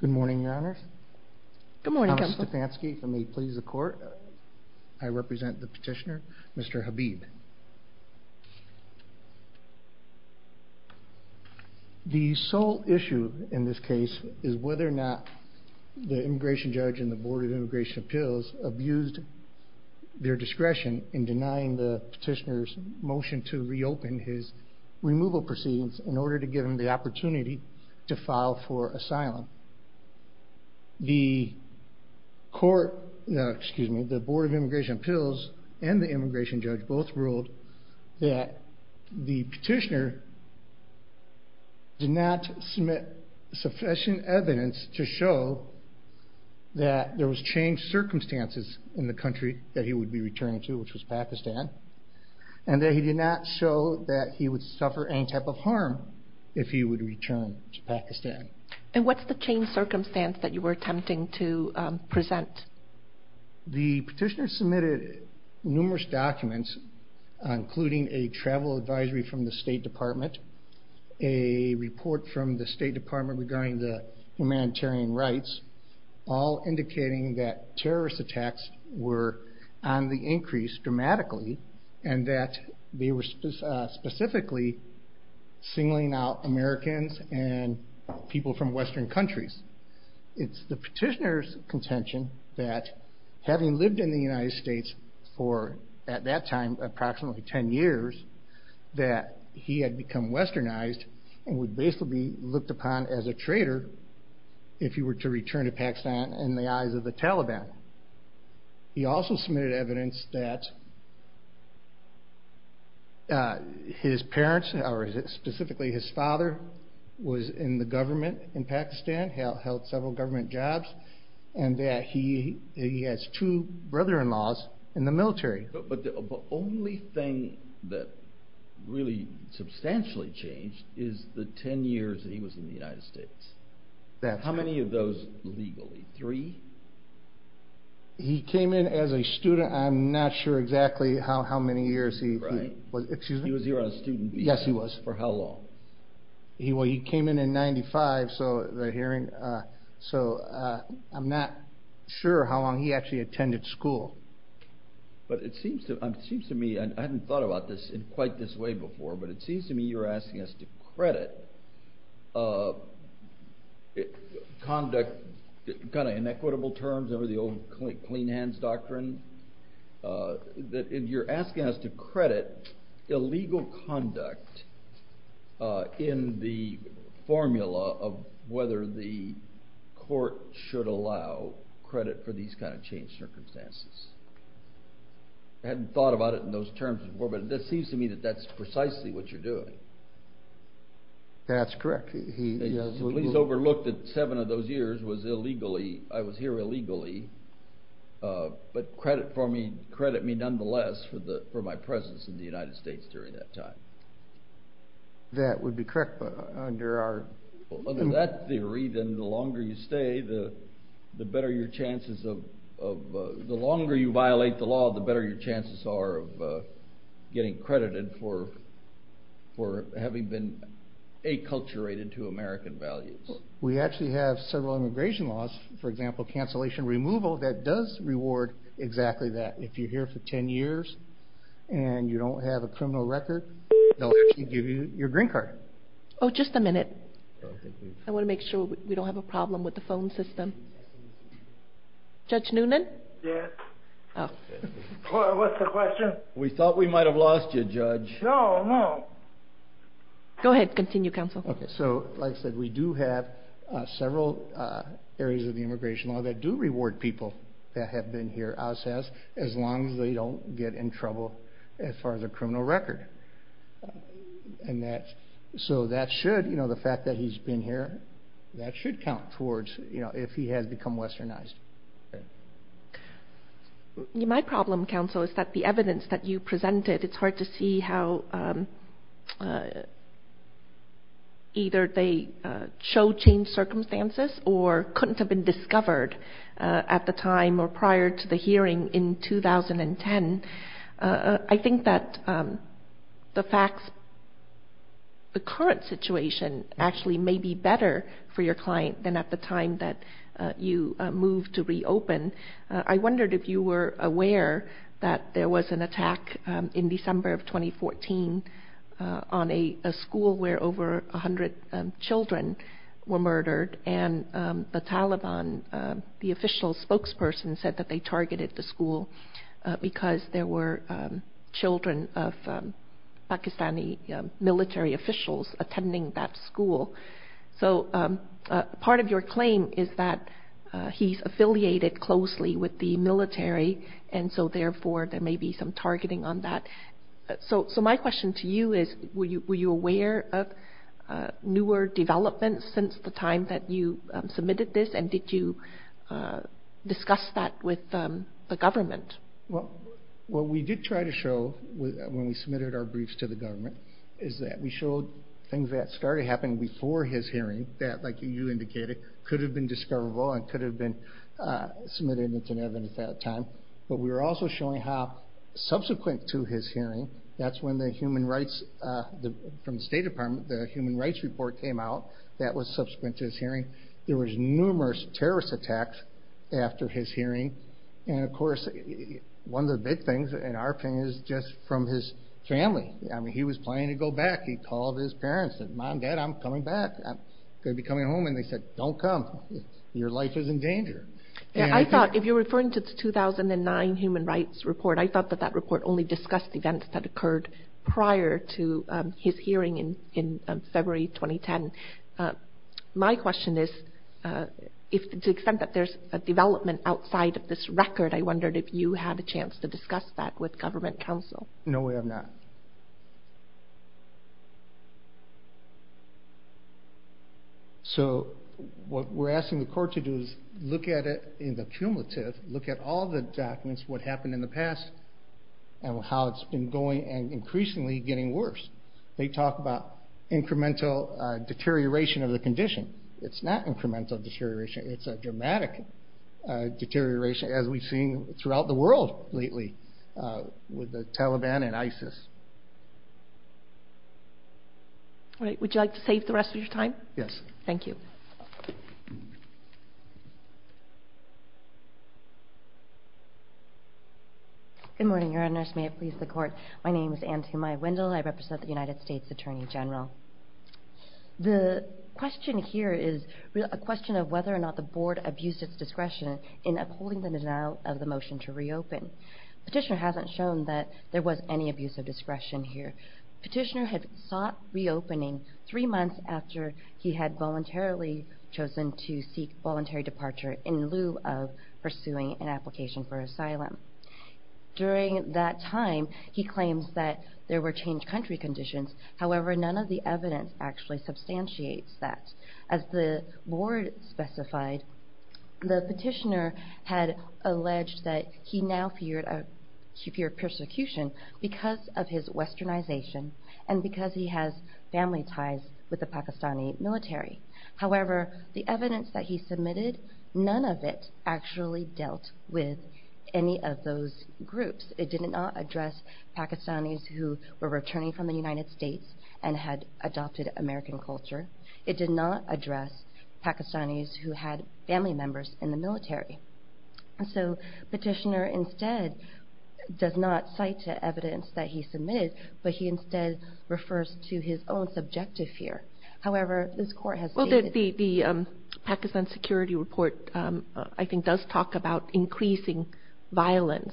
Good morning, Your Honor. Good morning, Mr. Stefanski. If I may please the court. I represent the petitioner, Mr. Habib. The sole issue in this case is whether or not the immigration judge and the Board of Immigration Appeals abused their discretion in denying the petitioner's removal proceedings in order to give him the opportunity to file for asylum. The Board of Immigration Appeals and the immigration judge both ruled that the petitioner did not submit sufficient evidence to show that there was changed circumstances in the country that he did not show that he would suffer any type of harm if he would return to Pakistan. And what's the changed circumstance that you were attempting to present? The petitioner submitted numerous documents including a travel advisory from the State Department, a report from the State Department regarding the humanitarian rights, all indicating that terrorist attacks were on the increase dramatically and that they were specifically singling out Americans and people from Western countries. It's the petitioner's contention that having lived in the United States for, at that time, approximately ten years, that he had become westernized and would basically be looked upon as a traitor if he were to become a Taliban. He also submitted evidence that his parents, or specifically his father, was in the government in Pakistan, held several government jobs, and that he has two brother-in-laws in the military. But the only thing that really substantially changed is the ten years that he was in the United States. He came in as a student. I'm not sure exactly how many years he was here. He was here on a student visa. Yes, he was. For how long? Well, he came in in 1995, so I'm not sure how long he actually attended school. But it seems to me, and I hadn't thought about this in quite this way before, but it seems to me you're asking us to credit conduct, kind of inequitable terms, for the fact that you remember the old clean hands doctrine, that you're asking us to credit illegal conduct in the formula of whether the court should allow credit for these kind of changed circumstances. I hadn't thought about it in those terms before, but it seems to me that that's precisely what you're doing. That's correct. The police overlooked that seven of those years I was here illegally, but credit me nonetheless for my presence in the United States during that time. That would be correct, but under our... Under that theory, then the longer you violate the law, the better your chances are of getting inculturated to American values. We actually have several immigration laws, for example, cancellation removal, that does reward exactly that. If you're here for ten years and you don't have a criminal record, they'll actually give you your green card. Oh, just a minute. I want to make sure we don't have a problem with the phone system. Judge Noonan? Yes. Oh. What's the question? We thought we might have lost you, Judge. No, no. Go ahead. Continue, Counsel. Okay. So, like I said, we do have several areas of the immigration law that do reward people that have been here, as long as they don't get in trouble as far as a criminal record. The fact that he's been here, that should count towards if he has become westernized. My problem, Counsel, is that the evidence that you presented, it's hard to see how either they show changed circumstances or couldn't have been discovered at the time or prior to the hearing in 2010. I think that the facts, the current situation actually may be better for your client than at the time that you moved to reopen. I wondered if you were aware that there was an attack in December of 2014 on a school where over 100 children were murdered and the Taliban, the official spokesperson said that they targeted the school because there were children of Pakistani military officials attending that school. So, I wonder if part of your claim is that he's affiliated closely with the military and so therefore there may be some targeting on that. So, my question to you is were you aware of newer developments since the time that you submitted this and did you discuss that with the government? What we did try to show when we submitted our briefs to the government is that we showed things that started happening before his hearing that, like you indicated, could have been discoverable and could have been submitted into evidence at that time. But we were also showing how subsequent to his hearing, that's when the human rights, from the State Department, the human rights report came out that was subsequent to his hearing. There was numerous terrorist attacks after his hearing and of course one of the big things, in our opinion, is just from his family. I mean, he was planning to go back. He called his parents and said, Mom, Dad, I'm coming back. I'm going to be coming home. And they said, don't come. Your life is in danger. I thought, if you're referring to the 2009 human rights report, I thought that that report only discussed events that occurred prior to his hearing in February 2010. My question is, to the extent that there's a development outside of this record, I wondered if you had a chance to discuss that with government counsel. No, we have not. So what we're asking the court to do is look at it in the cumulative, look at all the documents, what happened in the past and how it's been going and increasingly getting worse. They talk about incremental deterioration of the condition. It's not incremental deterioration. It's a dramatic deterioration, as we've seen throughout the world lately with the Taliban and ISIS. All right, would you like to save the rest of your time? Yes. Thank you. Good morning, Your Honors. May it please the court. My name is Antum I. Wendell. I represent the Board of Justice, and I'd like to ask you about the board abuse of discretion in upholding the denial of the motion to reopen. Petitioner hasn't shown that there was any abuse of discretion here. Petitioner had sought reopening three months after he had voluntarily chosen to seek voluntary departure in lieu of pursuing an application for asylum. During that time, he claims that there were changed country conditions. However, none of the evidence actually substantiates that. As the board specified, the petitioner had alleged that he now feared persecution because of his westernization and because he has family ties with the Pakistani military. However, the evidence that he submitted, none of it actually dealt with any of those groups. It did not address Pakistanis who were returning from the United States and had adopted American culture. It did not address Pakistanis who had family members in the military. So, petitioner instead does not cite the evidence that he submitted, but he instead refers to his own subjective fear. However, this court has stated... Well, the Pakistan security report, I think, does talk about increasing violence.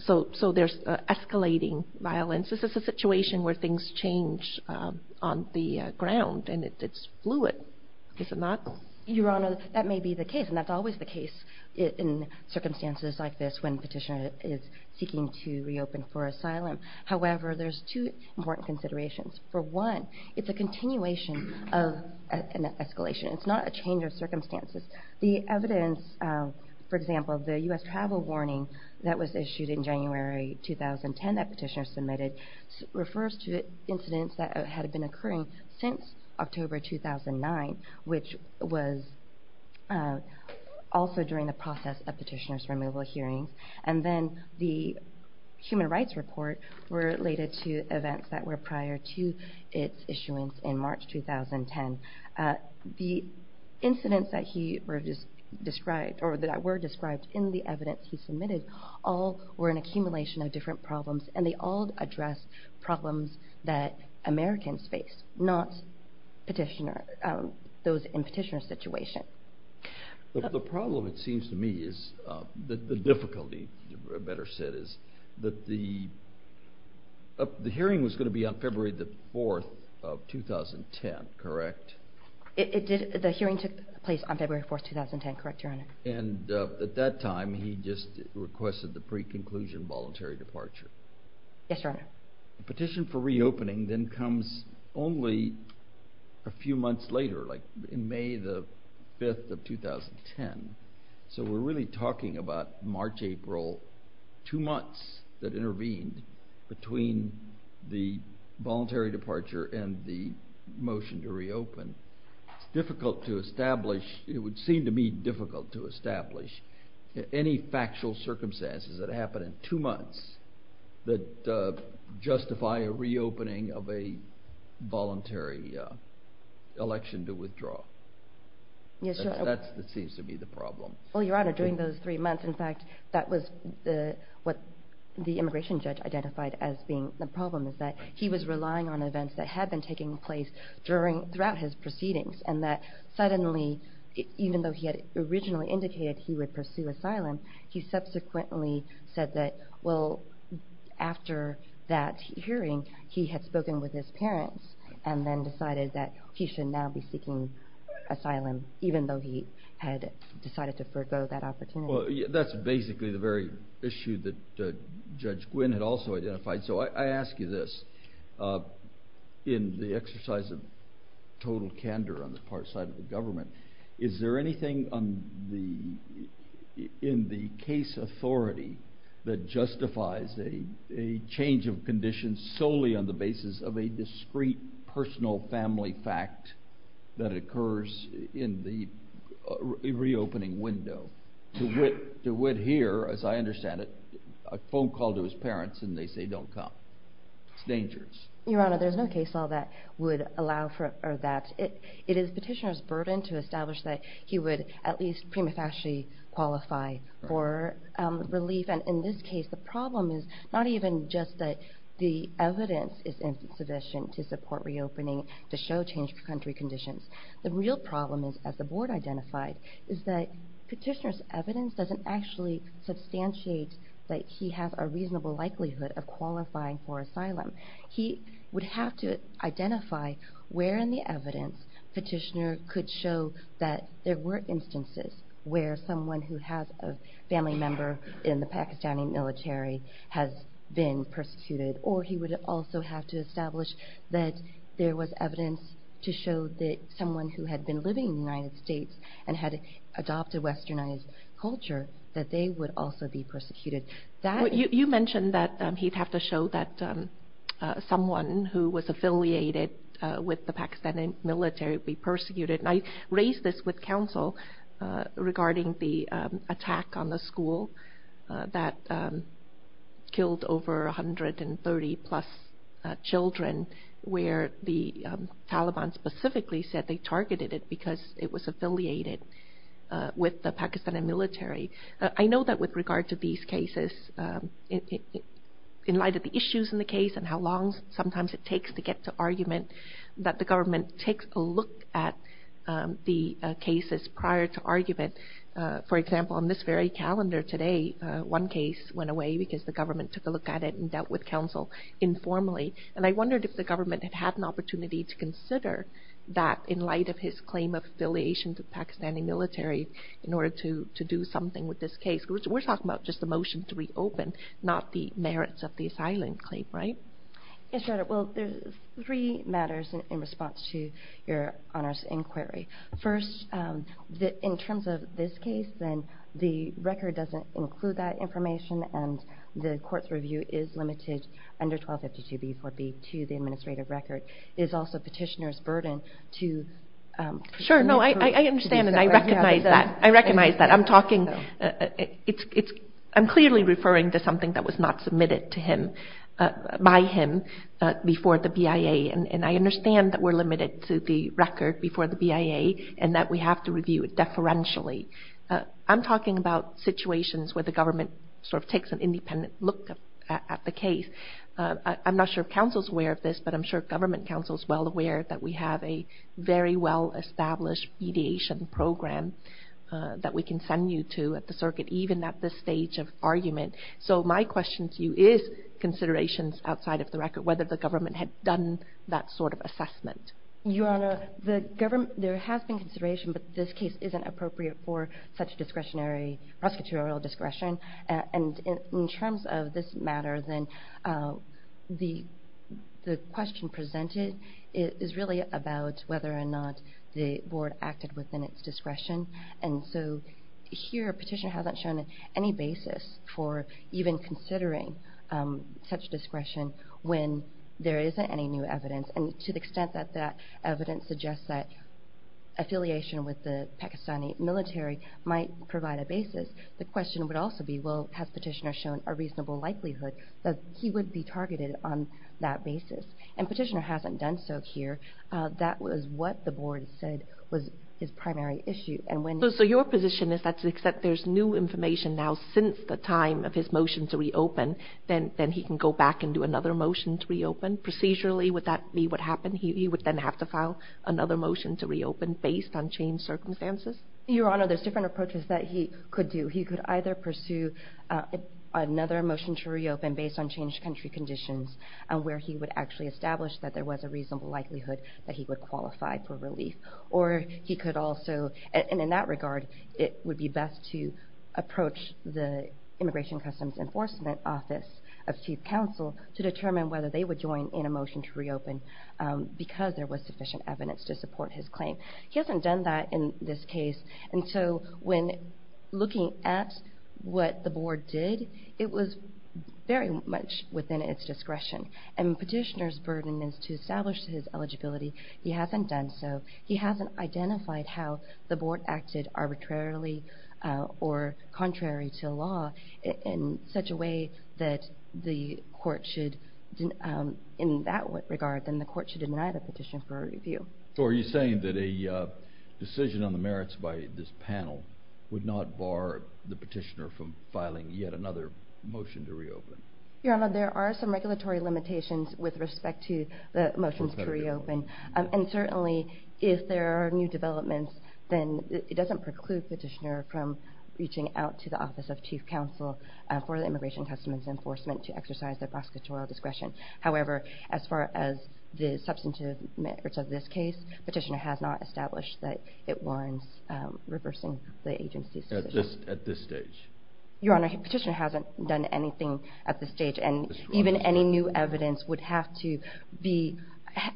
So, there's escalating violence. This is a situation where things change on the ground, and it's fluid, is it not? Your Honor, that may be the case, and that's always the case in circumstances like this when petitioner is seeking to reopen for asylum. However, there's two important considerations. For one, it's a continuation of an escalation. It's not a change of circumstances. The evidence, for example, the U.S. travel warning that was issued in January 2010 that petitioner submitted refers to incidents that had been occurring since October 2009, which was also during the process of petitioner's removal hearings. And then, the human rights report related to events that were prior to its issuance in March 2010. The incidents that he described or that were described in the evidence he provided, they all were an accumulation of different problems, and they all addressed problems that Americans face, not petitioner, those in petitioner's situation. The problem, it seems to me, is, the difficulty, better said, is that the hearing was going to be on February 4th of 2010, correct? The hearing took place on February 4th, 2010, correct, Your Honor? And at that time, he just requested the pre-conclusion voluntary departure. Yes, Your Honor. Petition for reopening then comes only a few months later, like in May the 5th of 2010. So we're really talking about March, April, two months that intervened between the voluntary departure and the motion to reopen. It's difficult to establish, it would seem to me difficult to establish any factual circumstances that happen in two months that justify a reopening of a voluntary election to withdraw. Yes, Your Honor. That seems to be the problem. Well, Your Honor, during those three months, in fact, that was what the immigration judge identified as being the problem, is that he was relying on events that had been taking place throughout his proceedings, and that suddenly, even though he had originally indicated he would pursue asylum, he subsequently said that, well, after that hearing, he had spoken with his parents and then decided that he should now be seeking asylum, even though he had decided to forego that opportunity. Well, that's basically the very issue that I have. I ask you this. In the exercise of total candor on the part side of the government, is there anything in the case authority that justifies a change of conditions solely on the basis of a discreet personal family fact that occurs in the reopening window? To wit, as I understand it, a phone call to his parents and they say don't come. It's dangerous. Your Honor, there's no case law that would allow for that. It is petitioner's burden to establish that he would at least prima facie qualify for relief, and in this case, the problem is not even just that the evidence is insufficient to support reopening to show change of country conditions. The real problem is, as the board identified, is that petitioner's evidence doesn't actually substantiate that he has a reasonable likelihood of qualifying for asylum. He would have to identify where in the evidence petitioner could show that there were instances where someone who has a family member in the Pakistani military has been persecuted, or he would also have to establish that there was evidence to show that someone who had been living in the United States and had adopted westernized culture, that they would also be persecuted. You mentioned that he'd have to show that someone who was affiliated with the Pakistani military be persecuted. I raised this with counsel regarding the attack on the school that killed over 130 plus children where the Taliban specifically said they targeted it because it was affiliated with the Pakistani military. I know that with regard to these cases, in light of the issues in the case and how long sometimes it takes to get to argument, that the government takes a look at the cases prior to argument. For example, on this very calendar today, one case went away because the government took a look at it and dealt with counsel informally, and I wondered if the government had had an opportunity to consider that in light of his claim of affiliation to the Pakistani military in order to do something with this case. We're talking about just the motion to reopen, not the merits of the asylum claim, right? Yes, Your Honor. There are three matters in response to Your Honor's inquiry. First, in terms of this case, the record doesn't include that information and the court's review is limited under 1252b4b to the administrative record. It is also petitioner's burden to... Sure, I understand and I recognize that. I'm clearly referring to something that was not submitted by him before the BIA, and I understand that we're limited to the record before the BIA and that we have to review it deferentially. I'm talking about situations where the government sort of takes an independent look at the case. I'm not sure if counsel's aware of this, but I'm sure government counsel's well aware that we have a very well-established mediation program that we can send you to at the circuit, even at this stage of argument. So my question to you is considerations outside of the record, whether the government had done that sort of assessment. Your Honor, the government... There has been consideration, but this case isn't appropriate for such discretionary, prosecutorial discretion. And in terms of this matter, then, the question presented is really about whether or not the Board acted within its discretion. And so here, a petitioner hasn't shown any basis for even considering such discretion when there isn't any new evidence, and to the extent that that evidence suggests that affiliation with the Pakistani military might provide a basis, the question would also be, well, has petitioner shown a reasonable likelihood that he would be targeted on that basis? And petitioner hasn't done so here. That was what the Board said was his primary issue. And when... So your position is that there's new information now since the time of his motion to reopen, then he can go back and do another motion to reopen? Procedurally, would that be what happened? He would then have to file another motion to reopen based on changed circumstances? Your Honor, there's different approaches that he could do. He could either pursue another motion to reopen based on changed country conditions, where he would actually establish that there was a reasonable likelihood that he would qualify for relief. Or he could also... And in that regard, it would be best to approach the Immigration Customs Enforcement Office of Chief Counsel to determine whether they would join in a motion to reopen because there was sufficient evidence to support his claim. He hasn't done that in this case, and so when looking at what the Board did, it was very much within its discretion. And petitioner's burden is to establish his eligibility. He hasn't done so. He hasn't identified how the court should... In that regard, then the court should deny the petition for review. So are you saying that a decision on the merits by this panel would not bar the petitioner from filing yet another motion to reopen? Your Honor, there are some regulatory limitations with respect to the motions to reopen. And certainly, if there are new developments, then it doesn't preclude petitioner from reaching out to the Office of Chief Counsel for the Immigration Customs Enforcement to exercise their prosecutorial discretion. However, as far as the substantive merits of this case, petitioner has not established that it warrants reversing the agency's decision. At this stage? Your Honor, petitioner hasn't done anything at this stage, and even any new evidence would have to be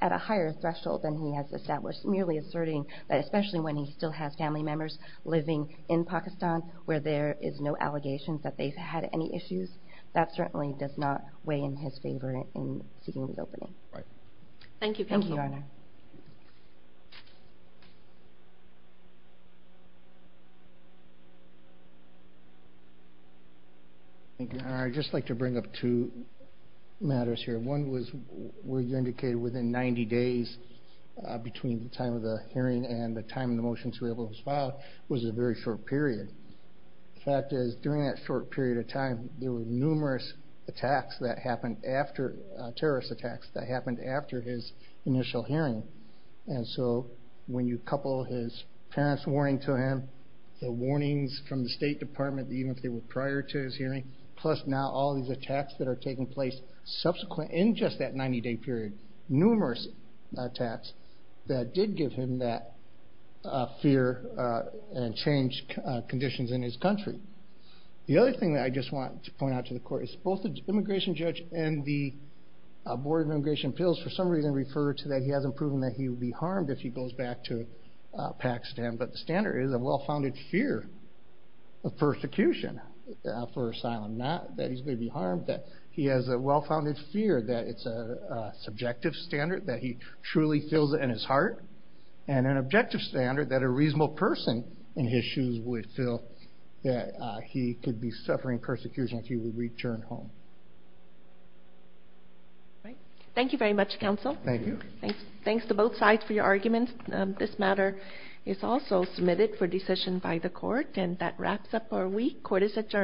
at a higher threshold than he has established, merely asserting that especially when he still has family members living in Pakistan, where there is no allegations that they've had any issues. That certainly does not weigh in his favor in seeking reopening. Thank you. Thank you, Your Honor. Thank you. Your Honor, I'd just like to bring up two matters here. One was where you indicated within 90 days between the time of the hearing and the time the motion to reopen was filed was a very short period. The fact is, during that short period of time, there were numerous attacks that happened after, terrorist attacks, that happened after his initial hearing. And so, when you couple his parents' warning to him, the warnings from the State Department, even if they were prior to his hearing, plus now all these attacks that are taking place subsequent, in just that 90-day period, numerous attacks that did give him that fear and changed conditions in his country. The other thing that I just want to point out to the Court is both the immigration judge and the Board of Immigration Appeals, for some reason, refer to that he hasn't proven that he would be harmed if he goes back to Pakistan. But the standard is a well-founded fear of persecution for asylum, not that he's going to be harmed. He has a well-founded fear that it's a subjective standard, that he truly feels it in his heart, and an objective standard that a reasonable person in his shoes would feel that he could be suffering persecution if he would return home. Thank you very much, Counsel. Thank you. Thanks to both sides for your arguments. This matter is also submitted for decision by the Court, and that wraps up our week. Court is adjourned.